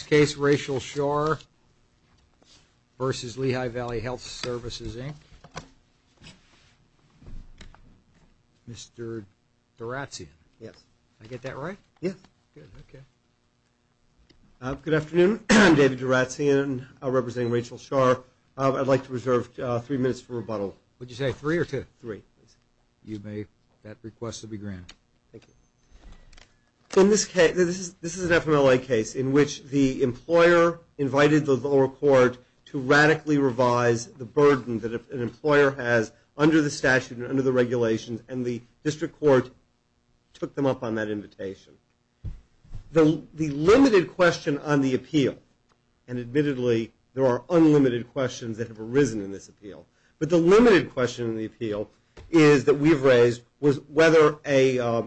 In this case, Rachel Schaar versus Lehigh Valley Health Services, Inc. Mr. Duratsion. Yes. Did I get that right? Yes. Good, okay. Good afternoon. I'm David Duratsion. I represent Rachel Schaar. I'd like to reserve three minutes for rebuttal. Would you say three or two? Three. You may. That request will be granted. Thank you. In this case, this is an FMLA case in which the employer invited the lower court to radically revise the burden that an employer has under the statute and under the regulations, and the district court took them up on that invitation. The limited question on the appeal, and admittedly, the limited question on the appeal is that we've raised whether a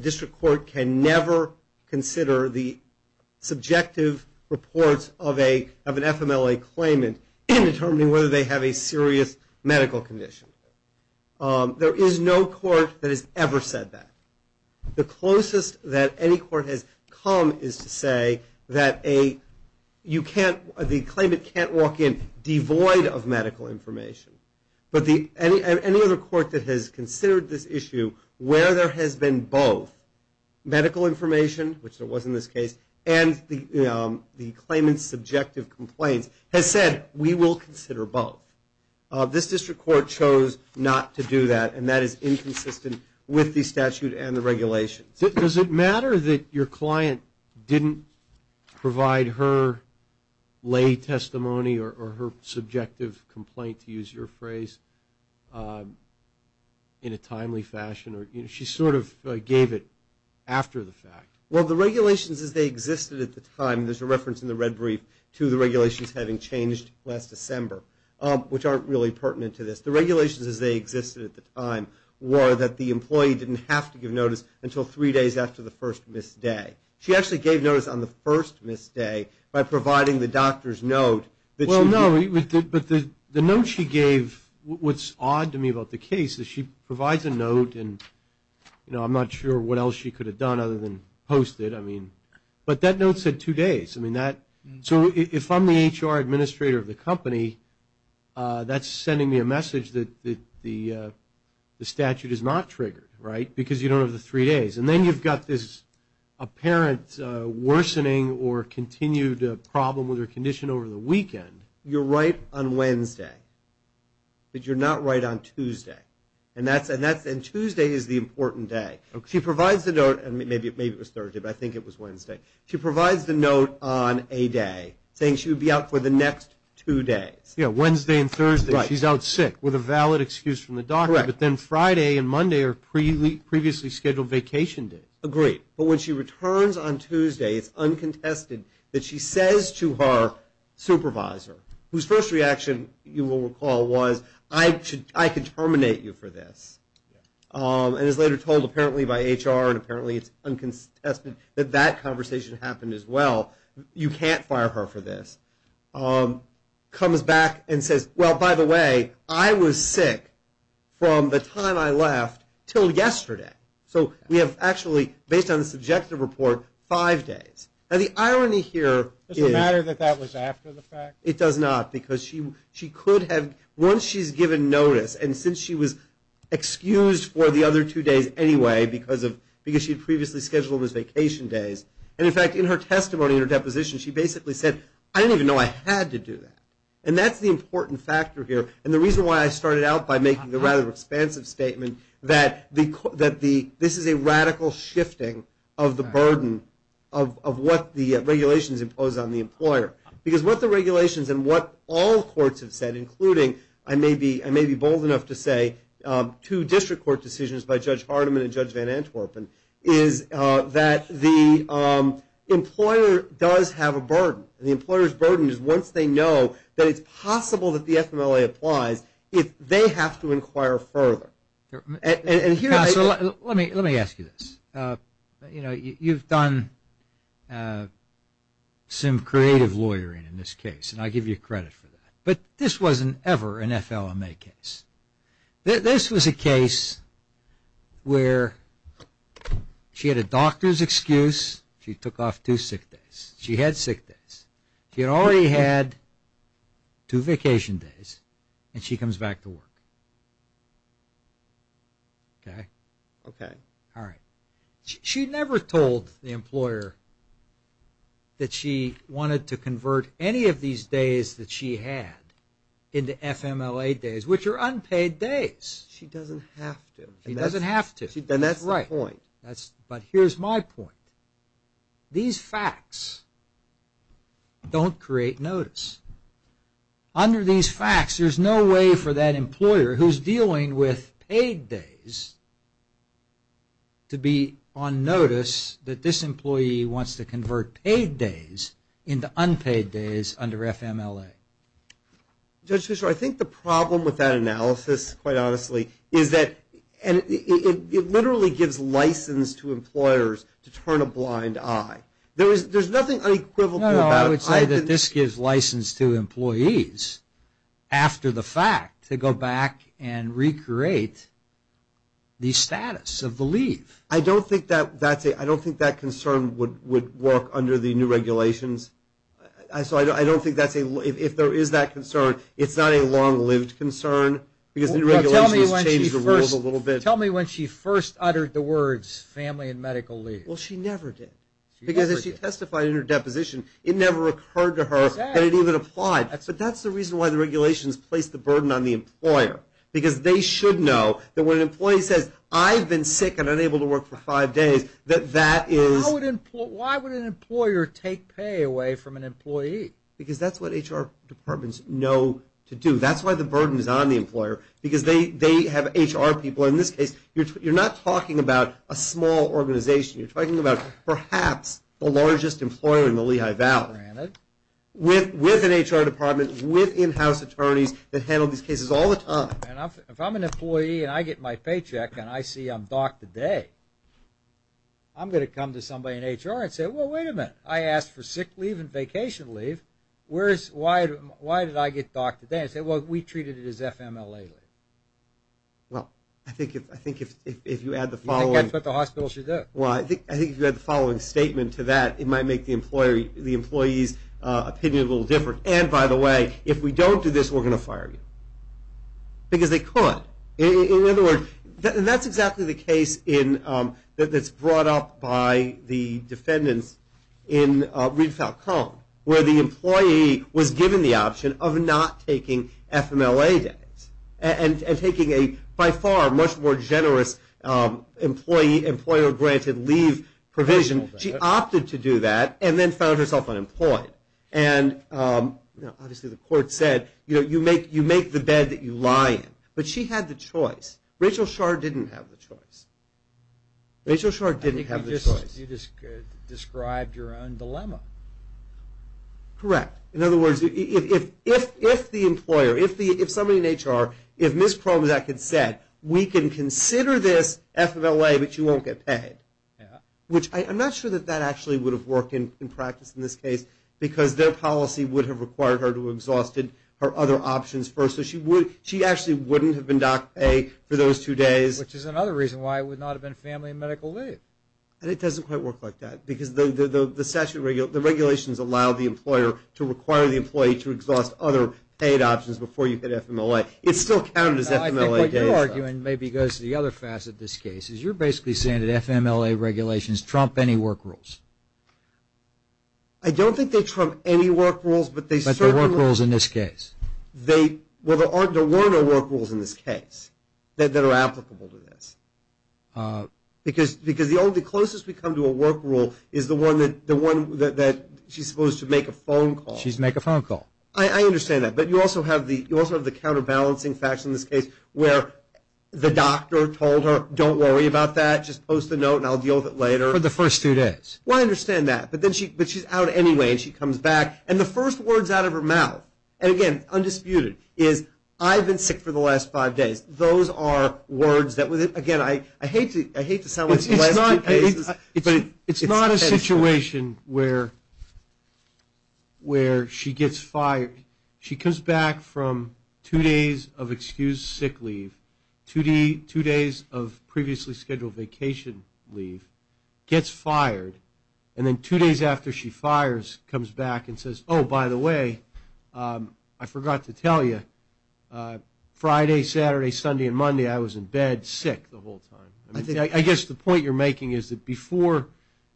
district court can never consider the subjective reports of an FMLA claimant in determining whether they have a serious medical condition. There is no court that has ever said that. The closest that any court has come is to say that the claimant can't walk in devoid of medical information. Any other court that has considered this issue where there has been both medical information, which there was in this case, and the claimant's subjective complaints has said, we will consider both. This district court chose not to do that, and that is inconsistent with the statute and the regulations. Does it matter that your client didn't provide her lay testimony or her subjective complaint, to use your phrase, in a timely fashion? She sort of gave it after the fact. Well, the regulations as they existed at the time, there's a reference in the red brief to the regulations having changed last December, which aren't really pertinent to this. The regulations as they existed at the time were that the employee didn't have to give notice until three days after the first missed day. She actually gave notice on the first missed day by providing the doctor's note that she did. Well, no, but the note she gave, what's odd to me about the case, is she provides a note and, you know, I'm not sure what else she could have done other than post it. I mean, but that note said two days. I mean, so if I'm the HR administrator of the company, that's sending me a message that the statute is not triggered, right, because you don't have the three days. And then you've got this apparent worsening or continued problem with her condition over the weekend. You're right on Wednesday, but you're not right on Tuesday. And Tuesday is the important day. She provides the note, and maybe it was Thursday, but I think it was Wednesday. She provides the note on a day saying she would be out for the next two days. Yeah, Wednesday and Thursday she's out sick with a valid excuse from the previously scheduled vacation day. Agreed. But when she returns on Tuesday, it's uncontested that she says to her supervisor, whose first reaction you will recall was, I could terminate you for this, and is later told apparently by HR and apparently it's uncontested that that conversation happened as well, you can't fire her for this, comes back and says, well, by the way, I was sick from the time I left until yesterday. So we have actually, based on the subjective report, five days. Now, the irony here is. Does it matter that that was after the fact? It does not because she could have, once she's given notice, and since she was excused for the other two days anyway because she had previously scheduled those vacation days, and, in fact, in her testimony, in her deposition, she basically said, I didn't even know I had to do that. And that's the important factor here. And the reason why I started out by making the rather expansive statement that this is a radical shifting of the burden of what the regulations impose on the employer. Because what the regulations and what all courts have said, including, I may be bold enough to say, two district court decisions by Judge Hardiman and Judge Van Antwerpen, is that the employer does have a burden. The employer's burden is once they know that it's possible that the FMLA applies, they have to inquire further. Counselor, let me ask you this. You know, you've done some creative lawyering in this case, and I give you credit for that. But this wasn't ever an FLMA case. This was a case where she had a doctor's excuse. She took off two sick days. She had sick days. She had already had two vacation days, and she comes back to work. Okay? Okay. All right. She never told the employer that she wanted to convert any of these days that she had into FMLA days, which are unpaid days. She doesn't have to. She doesn't have to. Then that's the point. Right. But here's my point. These facts don't create notice. Under these facts, there's no way for that employer who's dealing with paid days to be on notice that this employee wants to convert paid days into unpaid days under FMLA. Judge Fisher, I think the problem with that analysis, quite honestly, is that it literally gives license to employers to turn a blind eye. There's nothing unequivocal about it. No, no. I would say that this gives license to employees, after the fact, to go back and recreate the status of the leave. I don't think that concern would work under the new regulations. So I don't think if there is that concern, it's not a long-lived concern because the new regulations changed the rules a little bit. Tell me when she first uttered the words, family and medical leave. Well, she never did. She never did. Because as she testified in her deposition, it never occurred to her that it even applied. But that's the reason why the regulations placed the burden on the employer, because they should know that when an employee says, I've been sick and unable to work for five days, that that is… Why would an employer take pay away from an employee? Because that's what HR departments know to do. That's why the burden is on the employer, because they have HR people. In this case, you're not talking about a small organization. You're talking about perhaps the largest employer in the Lehigh Valley. Granted. With an HR department, with in-house attorneys that handle these cases all the time. If I'm an employee and I get my paycheck and I see I'm docked today, I'm going to come to somebody in HR and say, well, wait a minute. I asked for sick leave and vacation leave. Why did I get docked today? I said, well, we treated it as FMLA leave. Well, I think if you add the following… I think that's what the hospital should do. Well, I think if you add the following statement to that, it might make the employee's opinion a little different. And, by the way, if we don't do this, we're going to fire you. Because they could. In other words, that's exactly the case that's brought up by the defendants in Reed Falcone, where the employee was given the option of not taking FMLA days and taking a, by far, much more generous employer-granted leave provision. She opted to do that and then found herself unemployed. And, obviously, the court said, you know, you make the bed that you lie in. But she had the choice. Rachel Scharr didn't have the choice. Rachel Scharr didn't have the choice. You just described your own dilemma. Correct. In other words, if the employer, if somebody in HR, if Ms. Kromczak had said, we can consider this FMLA, but you won't get paid, which I'm not sure that that actually would have worked in practice in this case, because their policy would have required her to have exhausted her other options first. So she actually wouldn't have been docked pay for those two days. Which is another reason why it would not have been family and medical leave. And it doesn't quite work like that, because the regulations allow the employer to require the employee to exhaust other paid options before you hit FMLA. It still counted as FMLA days, though. No, I think what you're arguing maybe goes to the other facet of this case, is you're basically saying that FMLA regulations trump any work rules. I don't think they trump any work rules, but they certainly – But they're work rules in this case. Well, there were no work rules in this case that are applicable to this. Because the only closest we come to a work rule is the one that she's supposed to make a phone call. She's make a phone call. I understand that. But you also have the counterbalancing facts in this case, where the doctor told her, don't worry about that, just post a note and I'll deal with it later. For the first two days. Well, I understand that. But she's out anyway, and she comes back, and the first word's out of her mouth. And, again, undisputed, is I've been sick for the last five days. Those are words that, again, I hate to sound like the last two cases. But it's not a situation where she gets fired. She comes back from two days of excused sick leave, two days of previously scheduled vacation leave, gets fired, and then two days after she fires comes back and says, oh, by the way, I forgot to tell you, Friday, Saturday, Sunday, and Monday I was in bed sick the whole time. I guess the point you're making is that before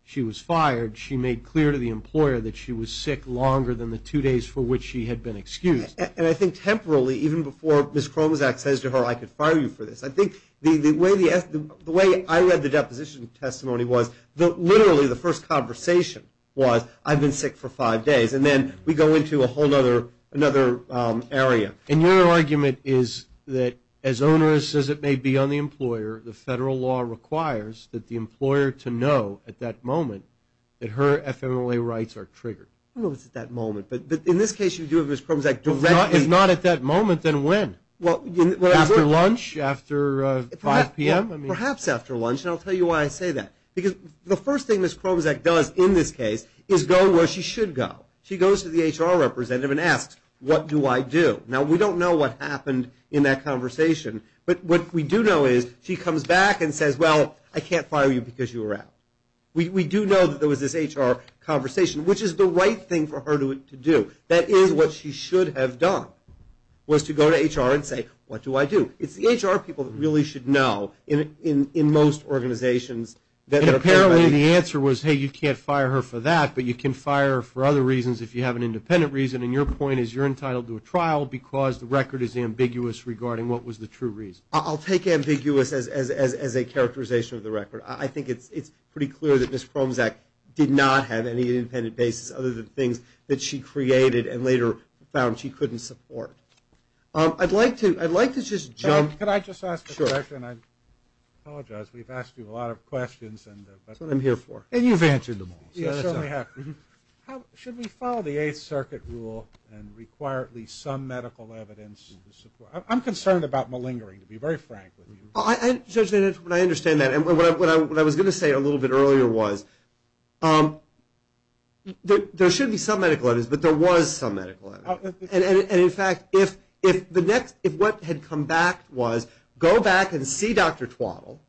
she was fired, she made clear to the employer that she was sick longer than the two days for which she had been excused. And I think temporally, even before Ms. Kromosak says to her, I could fire you for this, I think the way I read the deposition testimony was literally the first conversation was, I've been sick for five days, and then we go into a whole other area. And your argument is that as onerous as it may be on the employer, the federal law requires that the employer to know at that moment that her FMLA rights are triggered. I don't know if it's at that moment, but in this case you do have Ms. Kromosak directly. If not at that moment, then when? After lunch, after 5 p.m.? Perhaps after lunch, and I'll tell you why I say that. Because the first thing Ms. Kromosak does in this case is go where she should go. She goes to the HR representative and asks, what do I do? Now, we don't know what happened in that conversation, but what we do know is she comes back and says, well, I can't fire you because you were out. We do know that there was this HR conversation, which is the right thing for her to do. That is what she should have done was to go to HR and say, what do I do? It's the HR people that really should know in most organizations. And apparently the answer was, hey, you can't fire her for that, but you can fire her for other reasons if you have an independent reason. And your point is you're entitled to a trial because the record is ambiguous regarding what was the true reason. I'll take ambiguous as a characterization of the record. I think it's pretty clear that Ms. Kromosak did not have any independent basis other than things that she created and later found she couldn't support. I'd like to just jump. Can I just ask a question? Sure. I apologize. We've asked you a lot of questions. That's what I'm here for. And you've answered them all. You certainly have. Should we follow the Eighth Circuit rule and require at least some medical evidence? I'm concerned about malingering, to be very frank with you. I understand that. And what I was going to say a little bit earlier was there should be some medical evidence, but there was some medical evidence. And, in fact, if what had come back was go back and see Dr. Twaddle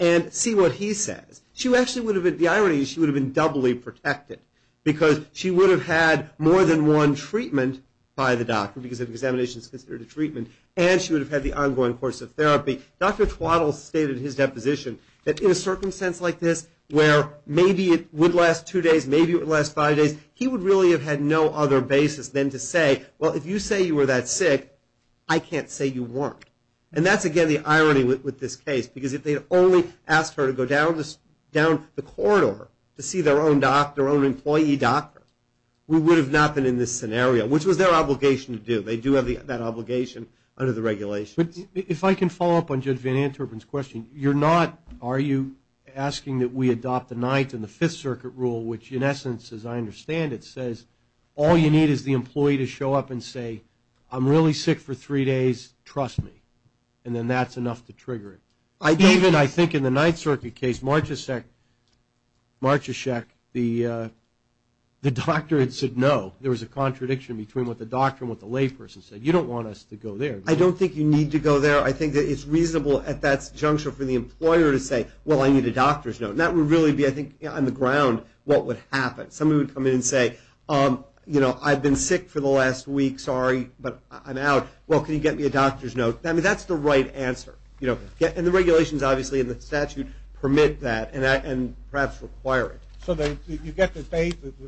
and see what he says, the irony is she would have been doubly protected because she would have had more than one treatment by the doctor because an examination is considered a treatment, and she would have had the ongoing course of therapy. Dr. Twaddle stated in his deposition that in a circumstance like this where maybe it would last two days, maybe it would last five days, he would really have had no other basis than to say, well, if you say you were that sick, I can't say you weren't. And that's, again, the irony with this case because if they had only asked her to go down the corridor to see their own doctor, their own employee doctor, we would have not been in this scenario, which was their obligation to do. They do have that obligation under the regulations. If I can follow up on Judge Van Anterpen's question, you're not asking that we adopt the Ninth and the Fifth Circuit rule, which, in essence, as I understand it, says all you need is the employee to show up and say, I'm really sick for three days, trust me, and then that's enough to trigger it. Even, I think, in the Ninth Circuit case, Marchesheck, the doctor had said no. There was a contradiction between what the doctor and what the layperson said. You don't want us to go there. I don't think you need to go there. I think that it's reasonable at that juncture for the employer to say, well, I need a doctor's note. And that would really be, I think, on the ground what would happen. Somebody would come in and say, you know, I've been sick for the last week, sorry, but I'm out. Well, can you get me a doctor's note? I mean, that's the right answer. And the regulations, obviously, and the statute permit that and perhaps require it. So you get the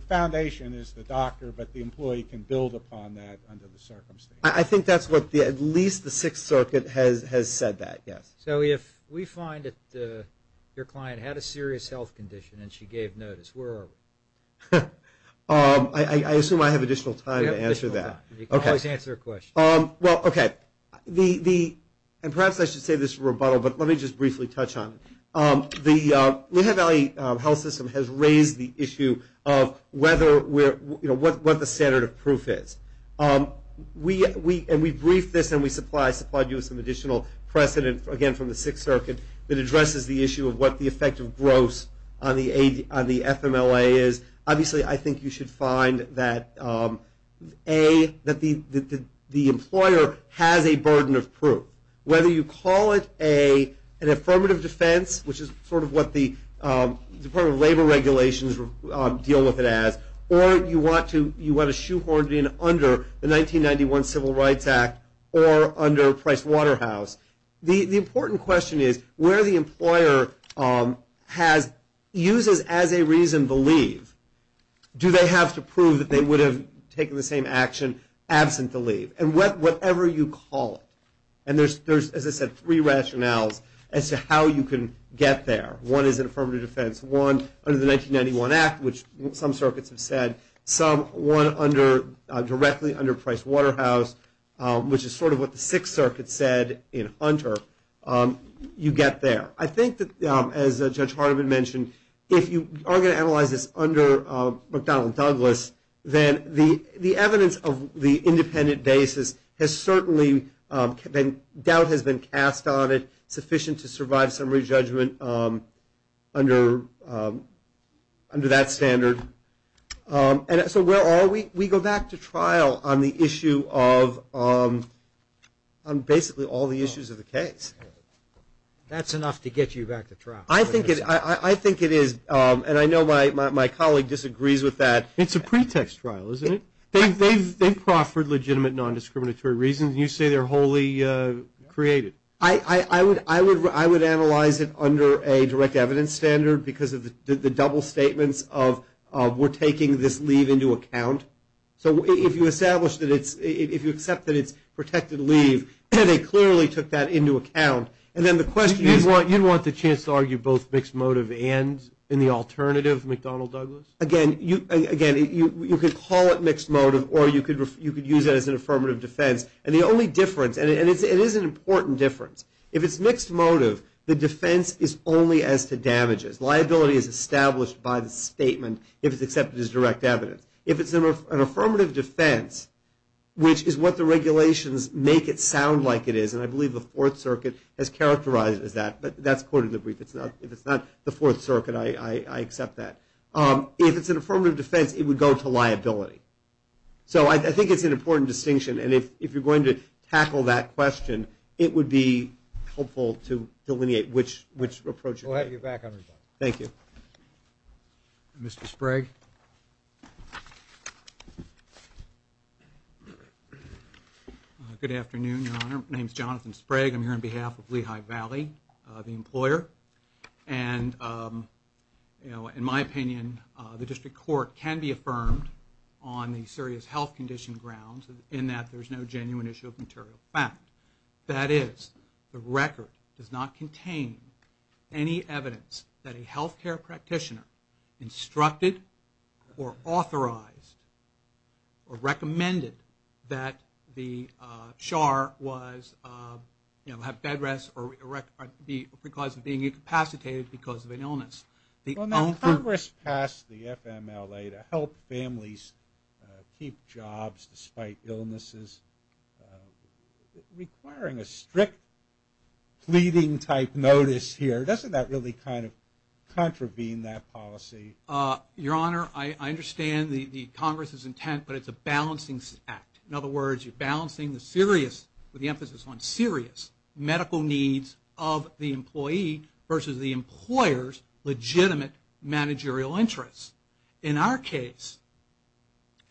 foundation is the doctor, but the employee can build upon that under the circumstances. I think that's what at least the Sixth Circuit has said that, yes. So if we find that your client had a serious health condition and she gave notice, where are we? I assume I have additional time to answer that. You can always answer a question. Well, okay. And perhaps I should say this rebuttal, but let me just briefly touch on it. The Lehigh Valley Health System has raised the issue of what the standard of proof is. And we briefed this and we supplied you with some additional precedent, again, from the Sixth Circuit, that addresses the issue of what the effect of gross on the FMLA is. Obviously, I think you should find that, A, that the employer has a burden of proof. Whether you call it an affirmative defense, which is sort of what the Department of Labor regulations deal with it as, or you want to shoehorn it in under the 1991 Civil Rights Act or under Pricewaterhouse, the important question is where the employer uses as a reason to leave, do they have to prove that they would have taken the same action absent the leave? And whatever you call it. And there's, as I said, three rationales as to how you can get there. One is an affirmative defense. One, under the 1991 Act, which some circuits have said. Some, one directly under Pricewaterhouse, which is sort of what the Sixth Circuit said in Hunter. You get there. I think that, as Judge Hardiman mentioned, if you are going to analyze this under McDonnell and Douglas, then the evidence of the independent basis has certainly been, doubt has been cast on it, sufficient to survive summary judgment under that standard. And so where are we? We go back to trial on the issue of, on basically all the issues of the case. That's enough to get you back to trial. I think it is, and I know my colleague disagrees with that. It's a pretext trial, isn't it? They've proffered legitimate nondiscriminatory reasons, and you say they're wholly created. I would analyze it under a direct evidence standard because of the double statements of, we're taking this leave into account. So if you establish that it's, if you accept that it's protected leave, they clearly took that into account. And then the question is. You want the chance to argue both mixed motive and in the alternative, McDonnell-Douglas? Again, you could call it mixed motive, or you could use it as an affirmative defense. And the only difference, and it is an important difference. If it's mixed motive, the defense is only as to damages. Liability is established by the statement if it's accepted as direct evidence. If it's an affirmative defense, which is what the regulations make it sound like it is, and I believe the Fourth Circuit has characterized it as that, but that's quoted in the brief. If it's not the Fourth Circuit, I accept that. If it's an affirmative defense, it would go to liability. So I think it's an important distinction, and if you're going to tackle that question, it would be helpful to delineate which approach. We'll have you back on your time. Thank you. Mr. Sprague. Good afternoon, Your Honor. My name is Jonathan Sprague. I'm here on behalf of Lehigh Valley, the employer. And in my opinion, the district court can be affirmed on the serious health condition grounds in that there's no genuine issue of material fact. That is, the record does not contain any evidence that a health care practitioner instructed or authorized or recommended that the SHAR was, you know, have bed rest or because of being incapacitated because of an illness. Well, now Congress passed the FMLA to help families keep jobs despite illnesses. Requiring a strict pleading type notice here, doesn't that really kind of contravene that policy? Your Honor, I understand the Congress's intent, but it's a balancing act. In other words, you're balancing the serious, with the emphasis on serious, medical needs of the employee versus the employer's legitimate managerial interests. In our case,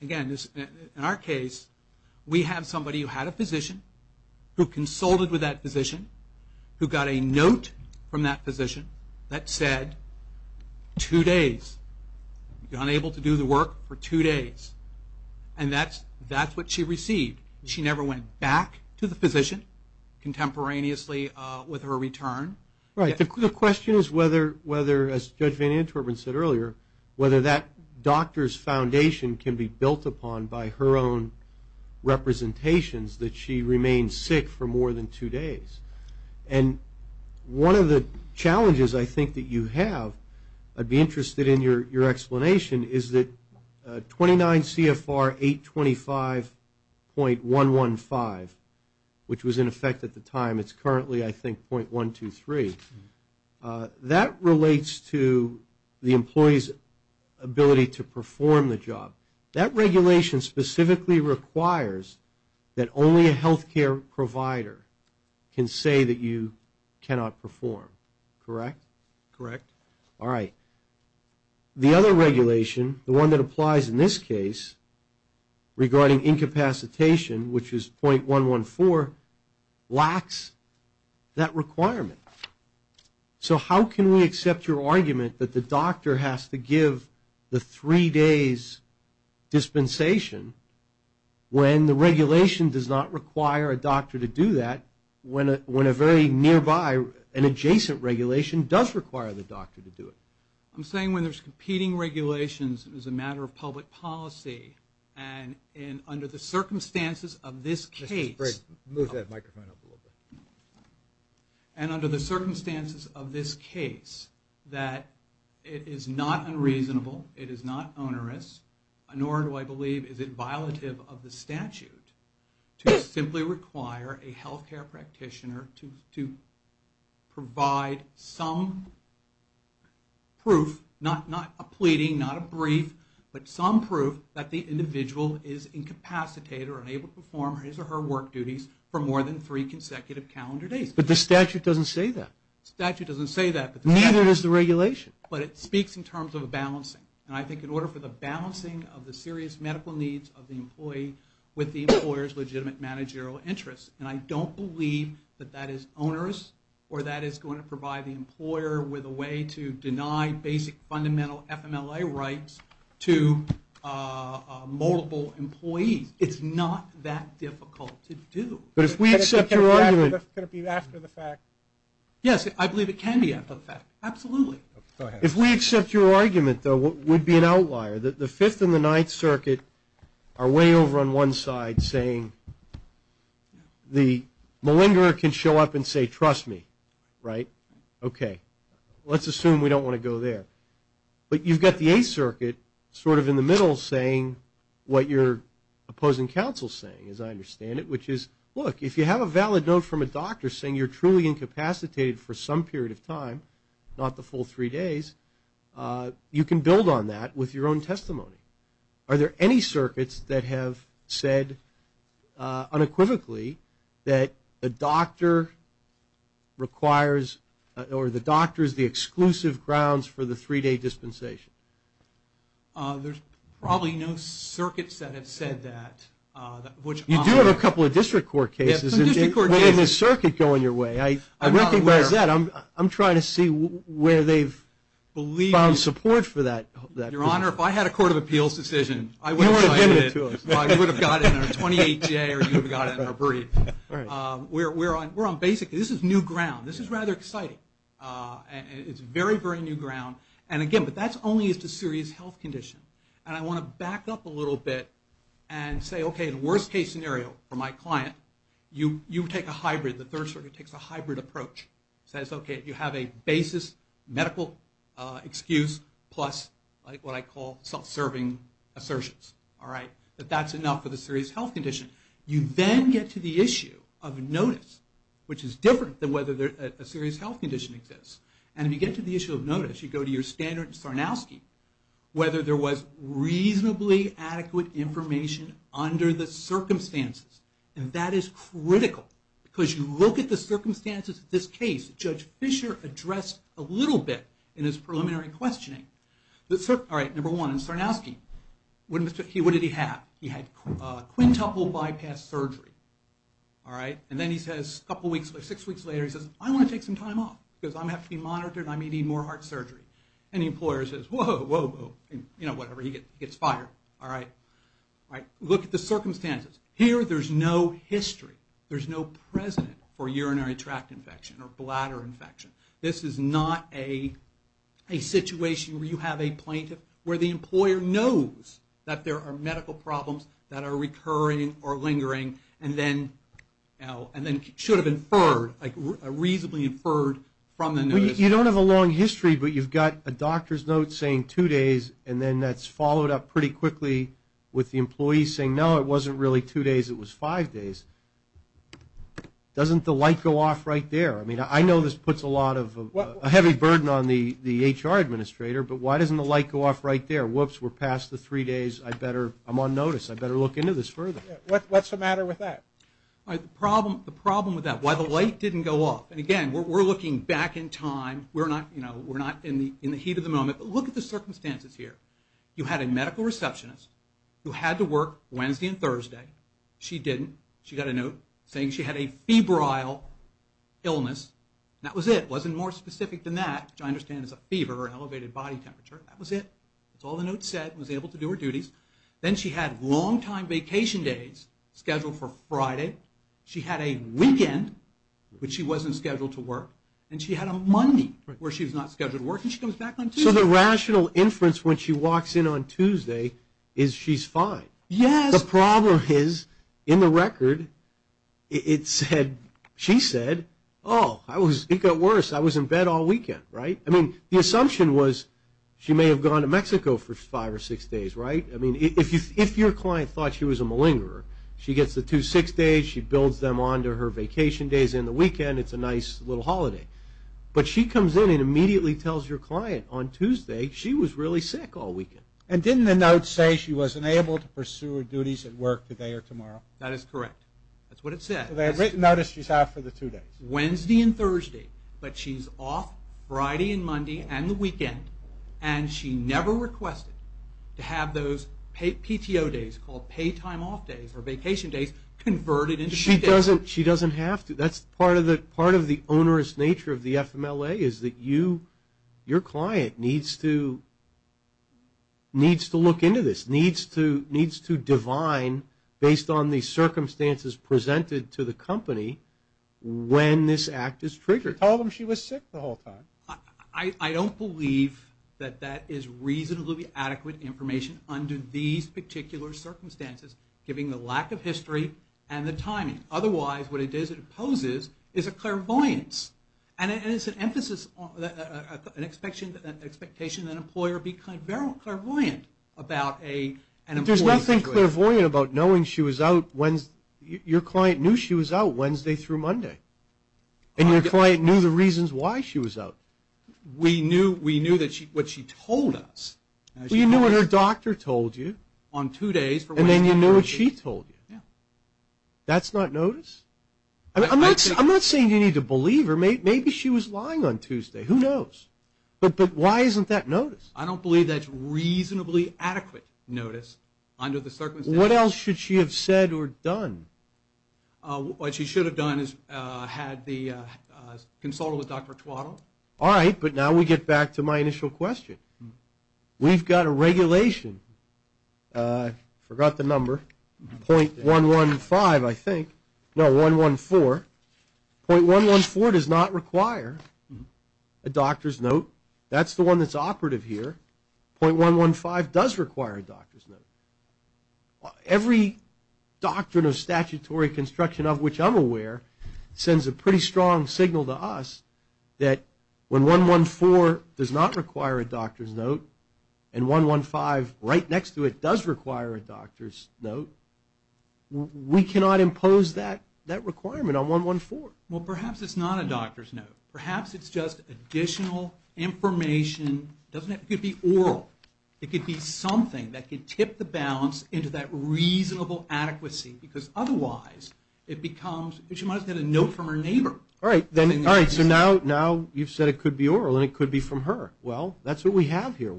again, in our case, we have somebody who had a physician, who consulted with that physician, who got a note from that physician that said, two days, unable to do the work for two days. And that's what she received. She never went back to the physician contemporaneously with her return. Right. The question is whether, as Judge Van Antwerpen said earlier, whether that doctor's foundation can be built upon by her own representations, that she remained sick for more than two days. And one of the challenges I think that you have, I'd be interested in your explanation, is that 29 CFR 825.115, which was in effect at the time, it's currently, I think, .123. That relates to the employee's ability to perform the job. That regulation specifically requires that only a health care provider can say that you cannot perform. Correct? Correct. All right. The other regulation, the one that applies in this case, regarding incapacitation, which is .114, lacks that requirement. So how can we accept your argument that the doctor has to give the three days dispensation when the regulation does not require a doctor to do that, when a very nearby and adjacent regulation does require the doctor to do it? I'm saying when there's competing regulations, it is a matter of public policy. And under the circumstances of this case... Mr. Sprague, move that microphone up a little bit. And under the circumstances of this case, that it is not unreasonable, it is not onerous, nor do I believe is it violative of the statute to simply require a health care practitioner to provide some proof, not a pleading, not a brief, but some proof that the individual is incapacitated or unable to perform his or her work duties for more than three consecutive calendar days. But the statute doesn't say that. The statute doesn't say that. Neither does the regulation. But it speaks in terms of a balancing. And I think in order for the balancing of the serious medical needs of the employee with the employer's legitimate managerial interests, and I don't believe that that is onerous or that it's going to provide the employer with a way to deny basic fundamental FMLA rights to multiple employees. It's not that difficult to do. But if we accept your argument... Could it be after the fact? Yes, I believe it can be after the fact. Absolutely. If we accept your argument, though, we'd be an outlier. The Fifth and the Ninth Circuit are way over on one side saying the malingerer can show up and say, trust me, right? Okay. Let's assume we don't want to go there. But you've got the Eighth Circuit sort of in the middle saying what your opposing counsel is saying, as I understand it, which is, look, if you have a valid note from a doctor saying you're truly incapacitated for some period of time, not the full three days, you can build on that with your own testimony. Are there any circuits that have said unequivocally that a doctor requires or the doctor is the exclusive grounds for the three-day dispensation? There's probably no circuits that have said that. You do have a couple of district court cases. Yeah, some district court cases. Where did the circuit go in your way? I'm not aware. I'm trying to see where they've found support for that. Your Honor, if I had a court of appeals decision, I would have cited it. You would have given it to us. I would have got it in a 28-J or you would have got it in a brief. We're on basic. This is new ground. This is rather exciting. It's very, very new ground. And, again, but that's only if it's a serious health condition. And I want to back up a little bit and say, okay, the worst-case scenario for my client, you take a hybrid. The third circuit takes a hybrid approach. It says, okay, you have a basis medical excuse plus what I call self-serving assertions. But that's enough for the serious health condition. You then get to the issue of notice, which is different than whether a serious health condition exists. And if you get to the issue of notice, you go to your standard Sarnowski, whether there was reasonably adequate information under the circumstances. And that is critical because you look at the circumstances of this case. Judge Fisher addressed a little bit in his preliminary questioning. All right, number one, in Sarnowski, what did he have? He had quintuple bypass surgery. All right? And then he says, a couple weeks later, six weeks later, he says, I want to take some time off because I have to be monitored and I may need more heart surgery. And the employer says, whoa, whoa, whoa. You know, whatever. He gets fired. All right? All right? Look at the circumstances. Here, there's no history. There's no precedent for urinary tract infection or bladder infection. This is not a situation where you have a plaintiff where the employer knows that there are medical problems that are recurring or lingering and then should have inferred, like reasonably inferred from the notice. You don't have a long history, but you've got a doctor's note saying two days, and then that's followed up pretty quickly with the employees saying, no, it wasn't really two days, it was five days. Doesn't the light go off right there? I mean, I know this puts a lot of heavy burden on the HR administrator, but why doesn't the light go off right there? Whoops, we're past the three days. I'm on notice. I better look into this further. What's the matter with that? The problem with that, why the light didn't go off. And, again, we're looking back in time. We're not in the heat of the moment. But look at the circumstances here. You had a medical receptionist who had to work Wednesday and Thursday. She didn't. She got a note saying she had a febrile illness. That was it. It wasn't more specific than that, which I understand is a fever or an elevated body temperature. That was it. That's all the note said. She was able to do her duties. Then she had long-time vacation days scheduled for Friday. She had a weekend when she wasn't scheduled to work, and she had a Monday where she was not scheduled to work, and she comes back on Tuesday. So the rational inference when she walks in on Tuesday is she's fine. Yes. The problem is, in the record, she said, oh, it got worse. I was in bed all weekend, right? I mean, the assumption was she may have gone to Mexico for five or six days, right? I mean, if your client thought she was a malingerer, she gets the two six days. She builds them onto her vacation days. And the weekend, it's a nice little holiday. But she comes in and immediately tells your client on Tuesday she was really sick all weekend. And didn't the note say she wasn't able to pursue her duties at work today or tomorrow? That is correct. That's what it said. So they had written notice she's out for the two days. Wednesday and Thursday. But she's off Friday and Monday and the weekend, and she never requested to have those PTO days called pay time off days or vacation days converted into two days. She doesn't have to. That's part of the onerous nature of the FMLA is that you, your client, needs to look into this, needs to divine, based on the circumstances presented to the company, when this act is triggered. Tell them she was sick the whole time. I don't believe that that is reasonably adequate information under these particular circumstances, given the lack of history and the timing. Otherwise, what it is it imposes is a clairvoyance. And it's an emphasis, an expectation that an employer be clairvoyant about an employee's situation. There's nothing clairvoyant about knowing she was out Wednesday. Your client knew she was out Wednesday through Monday. And your client knew the reasons why she was out. We knew what she told us. Well, you knew what her doctor told you. On two days. And then you knew what she told you. Yeah. That's not notice? I'm not saying you need to believe her. Maybe she was lying on Tuesday. Who knows? But why isn't that notice? I don't believe that's reasonably adequate notice under the circumstances. What else should she have said or done? What she should have done is had the consult with Dr. Tuato. All right, but now we get back to my initial question. We've got a regulation. I forgot the number. 0.115, I think. No, 114. 0.114 does not require a doctor's note. That's the one that's operative here. 0.115 does require a doctor's note. Every doctrine of statutory construction of which I'm aware sends a pretty strong signal to us that when 114 does not require a doctor's note and 115 right next to it does require a doctor's note, we cannot impose that requirement on 114. Well, perhaps it's not a doctor's note. Perhaps it's just additional information. It could be oral. It could be something that could tip the balance into that reasonable adequacy because otherwise it becomes, she might have said a note from her neighbor. All right, so now you've said it could be oral and it could be from her. Well, that's what we have here.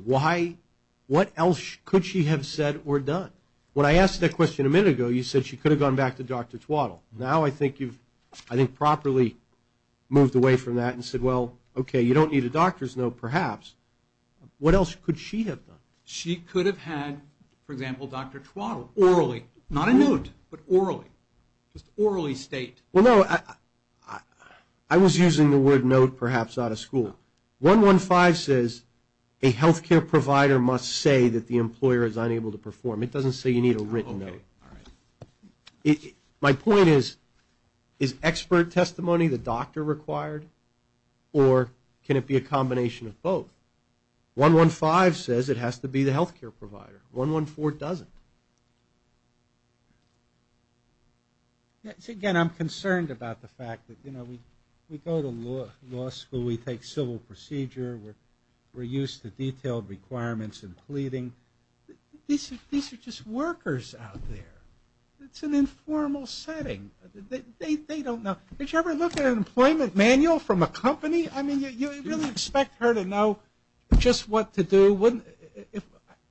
What else could she have said or done? When I asked that question a minute ago, you said she could have gone back to Dr. Tuato. Now I think you've properly moved away from that and said, well, okay, you don't need a doctor's note perhaps. What else could she have done? She could have had, for example, Dr. Tuato, orally. Not a note, but orally. Just orally state. Well, no, I was using the word note perhaps out of school. 115 says a health care provider must say that the employer is unable to perform. It doesn't say you need a written note. My point is, is expert testimony the doctor required, or can it be a combination of both? 115 says it has to be the health care provider. 114 doesn't. Again, I'm concerned about the fact that, you know, we go to law school, we take civil procedure, we're used to detailed requirements and pleading. These are just workers out there. It's an informal setting. They don't know. Did you ever look at an employment manual from a company? I mean, you really expect her to know just what to do.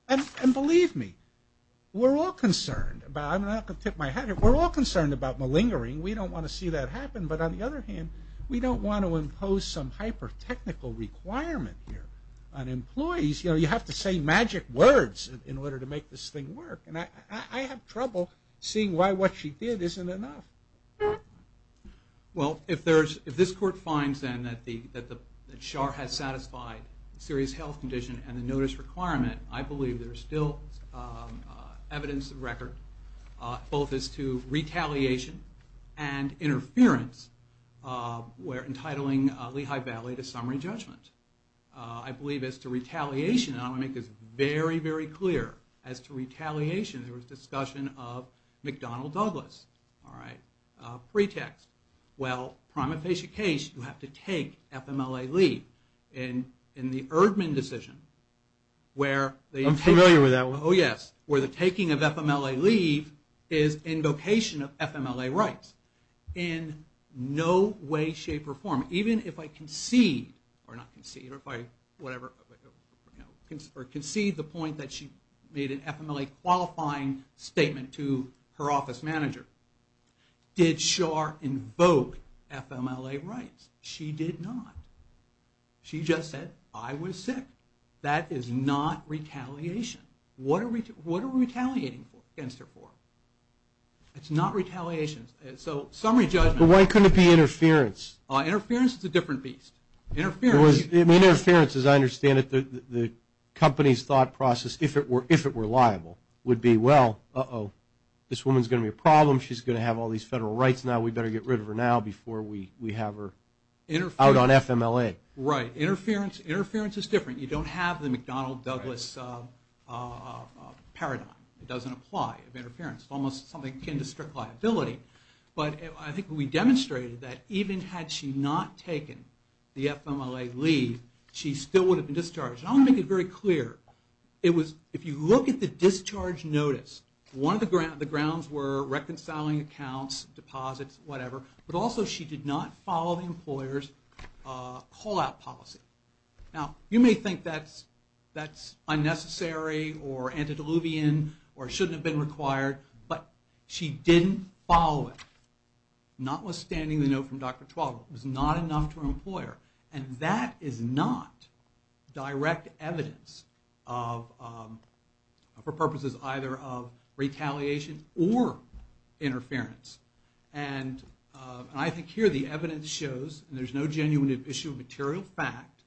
And believe me, we're all concerned. I'm not going to tip my hat here. We're all concerned about malingering. We don't want to see that happen. But on the other hand, we don't want to impose some hyper-technical requirement here on employees. You know, you have to say magic words in order to make this thing work. And I have trouble seeing why what she did isn't enough. Well, if this court finds, then, that Char has satisfied serious health condition and the notice requirement, I believe there's still evidence of record, both as to retaliation and interference, where entitling Lehigh Valley to summary judgment. I believe as to retaliation, I want to make this very, very clear. As to retaliation, there was discussion of McDonnell Douglas. All right. Pretext. Well, prima facie case, you have to take FMLA leave. And in the Erdman decision, where the- I'm familiar with that one. Oh, yes. Where the taking of FMLA leave is invocation of FMLA rights. In no way, shape, or form, even if I concede, or not concede, or whatever, or concede the point that she made an FMLA qualifying statement to her office manager. Did Char invoke FMLA rights? She did not. She just said, I was sick. That is not retaliation. What are we retaliating against her for? It's not retaliation. So, summary judgment. But why couldn't it be interference? Interference is a different beast. Interference. Interference, as I understand it, the company's thought process, if it were liable, would be, well, uh-oh, this woman's going to be a problem. She's going to have all these federal rights now. We better get rid of her now before we have her out on FMLA. Right. Interference is different. You don't have the McDonnell Douglas paradigm. It doesn't apply of interference. It's almost something akin to strict liability. But I think we demonstrated that even had she not taken the FMLA leave, she still would have been discharged. I want to make it very clear. If you look at the discharge notice, the grounds were reconciling accounts, deposits, whatever. But also she did not follow the employer's call-out policy. Now, you may think that's unnecessary or antediluvian or shouldn't have been required. But she didn't follow it, notwithstanding the note from Dr. Twalwell. It was not enough to her employer. And that is not direct evidence for purposes either of retaliation or interference. And I think here the evidence shows, and there's no genuine issue of material fact,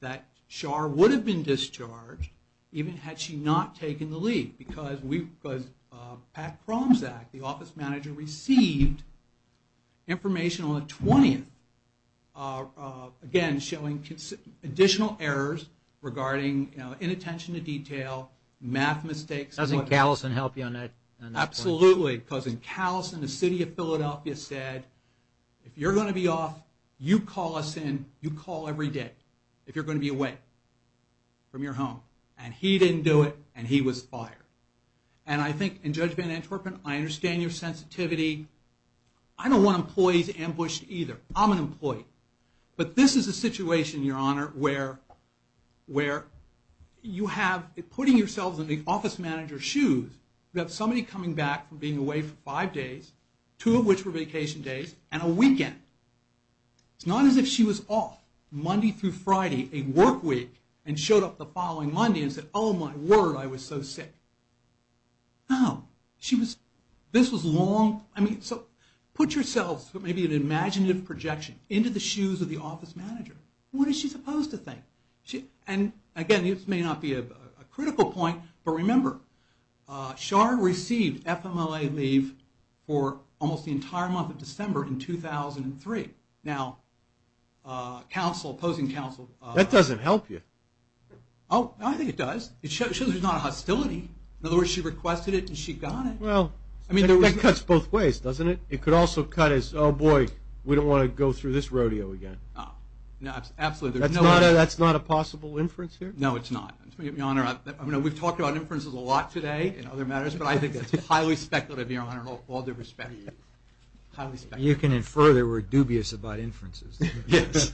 that Char would have been discharged even had she not taken the leave because Pat Kromzak, the office manager, received information on the 20th, again, showing additional errors regarding inattention to detail, math mistakes. Doesn't Callison help you on that? Absolutely. Because in Callison, the city of Philadelphia said, if you're going to be off, you call us in. You call every day if you're going to be away from your home. And he didn't do it, and he was fired. And I think, and Judge Van Antwerpen, I understand your sensitivity. I don't want employees ambushed either. I'm an employee. But this is a situation, Your Honor, where you have putting yourselves in the office manager's shoes. You have somebody coming back from being away for five days, two of which were vacation days, and a weekend. It's not as if she was off Monday through Friday, a work week, and showed up the following Monday and said, oh, my word, I was so sick. No. She was, this was long. I mean, so put yourselves, maybe an imaginative projection, into the shoes of the office manager. What is she supposed to think? And, again, this may not be a critical point, but remember, Scharr received FMLA leave for almost the entire month of December in 2003. Now, opposing counsel. That doesn't help you. Oh, no, I think it does. It shows there's not a hostility. In other words, she requested it, and she got it. Well, that cuts both ways, doesn't it? It could also cut as, oh, boy, we don't want to go through this rodeo again. Absolutely. That's not a possible inference here? No, it's not. Your Honor, we've talked about inferences a lot today in other matters, but I think it's highly speculative, Your Honor, in all due respect. You can infer that we're dubious about inferences. Yes.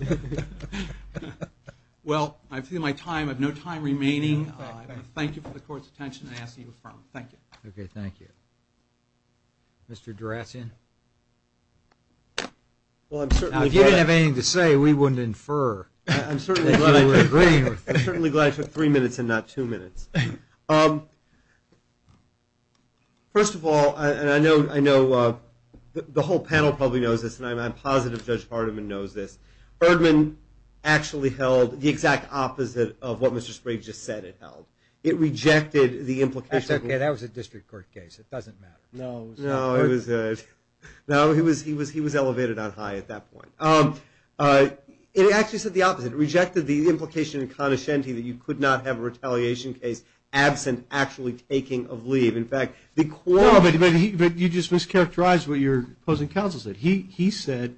Well, I've seen my time. I have no time remaining. I want to thank you for the Court's attention and ask that you affirm. Thank you. Okay, thank you. Mr. Durasian? Well, I'm certainly glad. Now, if you didn't have anything to say, we wouldn't infer. I'm certainly glad I took three minutes and not two minutes. First of all, and I know the whole panel probably knows this, and I'm positive Judge Hardiman knows this, Erdman actually held the exact opposite of what Mr. Sprague just said it held. It rejected the implication. That's okay. That was a district court case. It doesn't matter. No, he was elevated on high at that point. It actually said the opposite. It rejected the implication in conoscente that you could not have a retaliation case absent actually taking of leave. In fact, the core of it. No, but you just mischaracterized what your opposing counsel said. He said,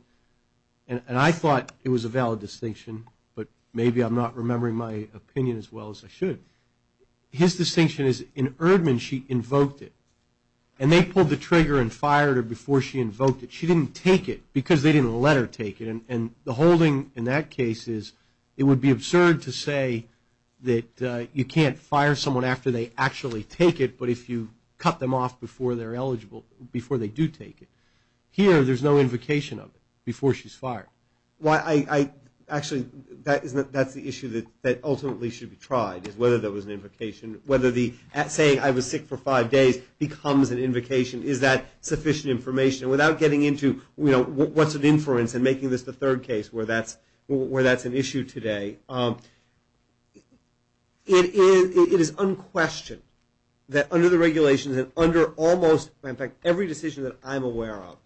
and I thought it was a valid distinction, but maybe I'm not remembering my opinion as well as I should. His distinction is in Erdman she invoked it, and they pulled the trigger and fired her before she invoked it. She didn't take it because they didn't let her take it. And the holding in that case is it would be absurd to say that you can't fire someone after they actually take it, but if you cut them off before they're eligible, before they do take it. Here, there's no invocation of it before she's fired. Actually, that's the issue that ultimately should be tried, is whether there was an invocation, whether saying I was sick for five days becomes an invocation. Is that sufficient information? Without getting into what's an inference and making this the third case where that's an issue today, it is unquestioned that under the regulations and under almost, in fact, every decision that I'm aware of,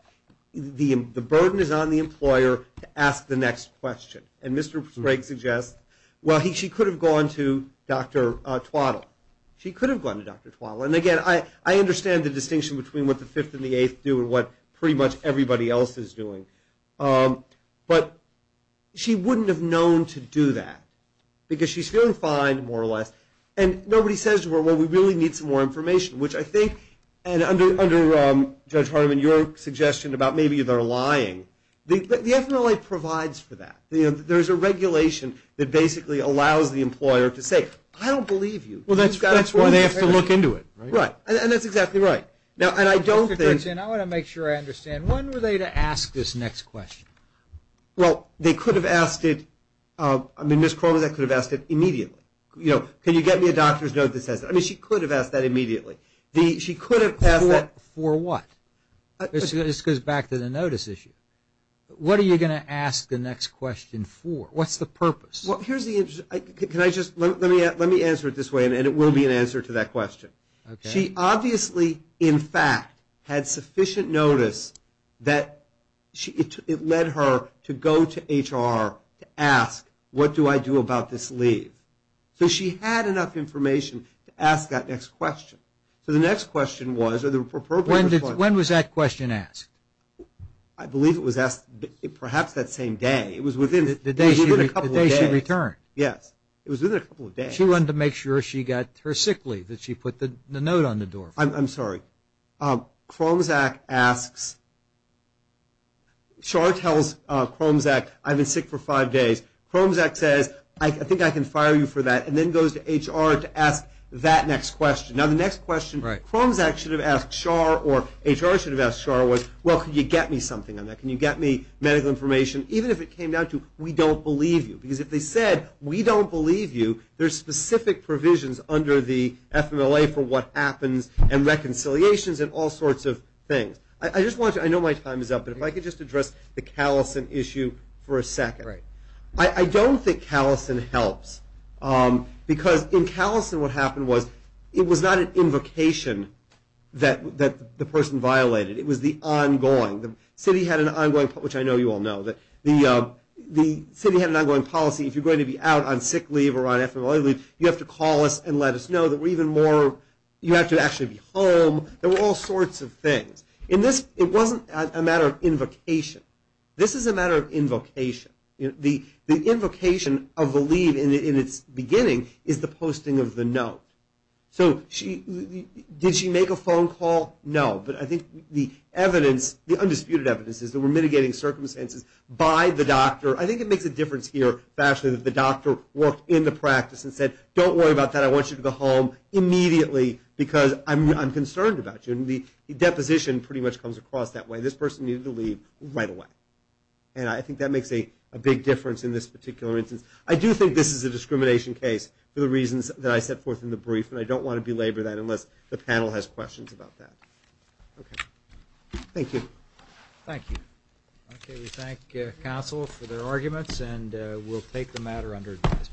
the burden is on the employer to ask the next question. And Mr. Craig suggests, well, she could have gone to Dr. Twaddle. She could have gone to Dr. Twaddle. And, again, I understand the distinction between what the Fifth and the Eighth do and what pretty much everybody else is doing. But she wouldn't have known to do that because she's feeling fine, more or less. And nobody says to her, well, we really need some more information, which I think under Judge Hardiman, your suggestion about maybe they're lying, the FMLA provides for that. There's a regulation that basically allows the employer to say, I don't believe you. Well, that's why they have to look into it. Right, and that's exactly right. Now, and I don't think. I want to make sure I understand. When were they to ask this next question? Well, they could have asked it. I mean, Ms. Corbis could have asked it immediately. You know, can you get me a doctor's note that says that? I mean, she could have asked that immediately. She could have asked that. For what? This goes back to the notice issue. What are you going to ask the next question for? What's the purpose? Well, here's the interesting. Let me answer it this way, and it will be an answer to that question. She obviously, in fact, had sufficient notice that it led her to go to HR to ask, what do I do about this leave? So she had enough information to ask that next question. So the next question was, are there appropriate responses? When was that question asked? I believe it was asked perhaps that same day. It was within a couple of days. The day she returned. Yes. It was within a couple of days. She wanted to make sure she got her sick leave, that she put the note on the door for. I'm sorry. Chromzack asks. Char tells Chromzack, I've been sick for five days. Chromzack says, I think I can fire you for that, and then goes to HR to ask that next question. Now, the next question Chromzack should have asked Char or HR should have asked Char was, well, can you get me something on that? Can you get me medical information? Even if it came down to, we don't believe you. Because if they said, we don't believe you, there's specific provisions under the FMLA for what happens and reconciliations and all sorts of things. I just want to, I know my time is up, but if I could just address the Callison issue for a second. I don't think Callison helps. Because in Callison what happened was it was not an invocation that the person violated. It was the ongoing. The city had an ongoing, which I know you all know, that the city had an ongoing policy. If you're going to be out on sick leave or on FMLA leave, you have to call us and let us know that we're even more, you have to actually be home. There were all sorts of things. It wasn't a matter of invocation. This is a matter of invocation. The invocation of the leave in its beginning is the posting of the note. So did she make a phone call? No. But I think the evidence, the undisputed evidence is that we're mitigating circumstances by the doctor. I think it makes a difference here, actually, that the doctor worked in the practice and said, don't worry about that, I want you to go home immediately because I'm concerned about you. And the deposition pretty much comes across that way. This person needed to leave right away. And I think that makes a big difference in this particular instance. I do think this is a discrimination case for the reasons that I set forth in the brief, and I don't want to belabor that unless the panel has questions about that. Okay. Thank you. Thank you. Okay. We thank counsel for their arguments, and we'll take the matter under advisement.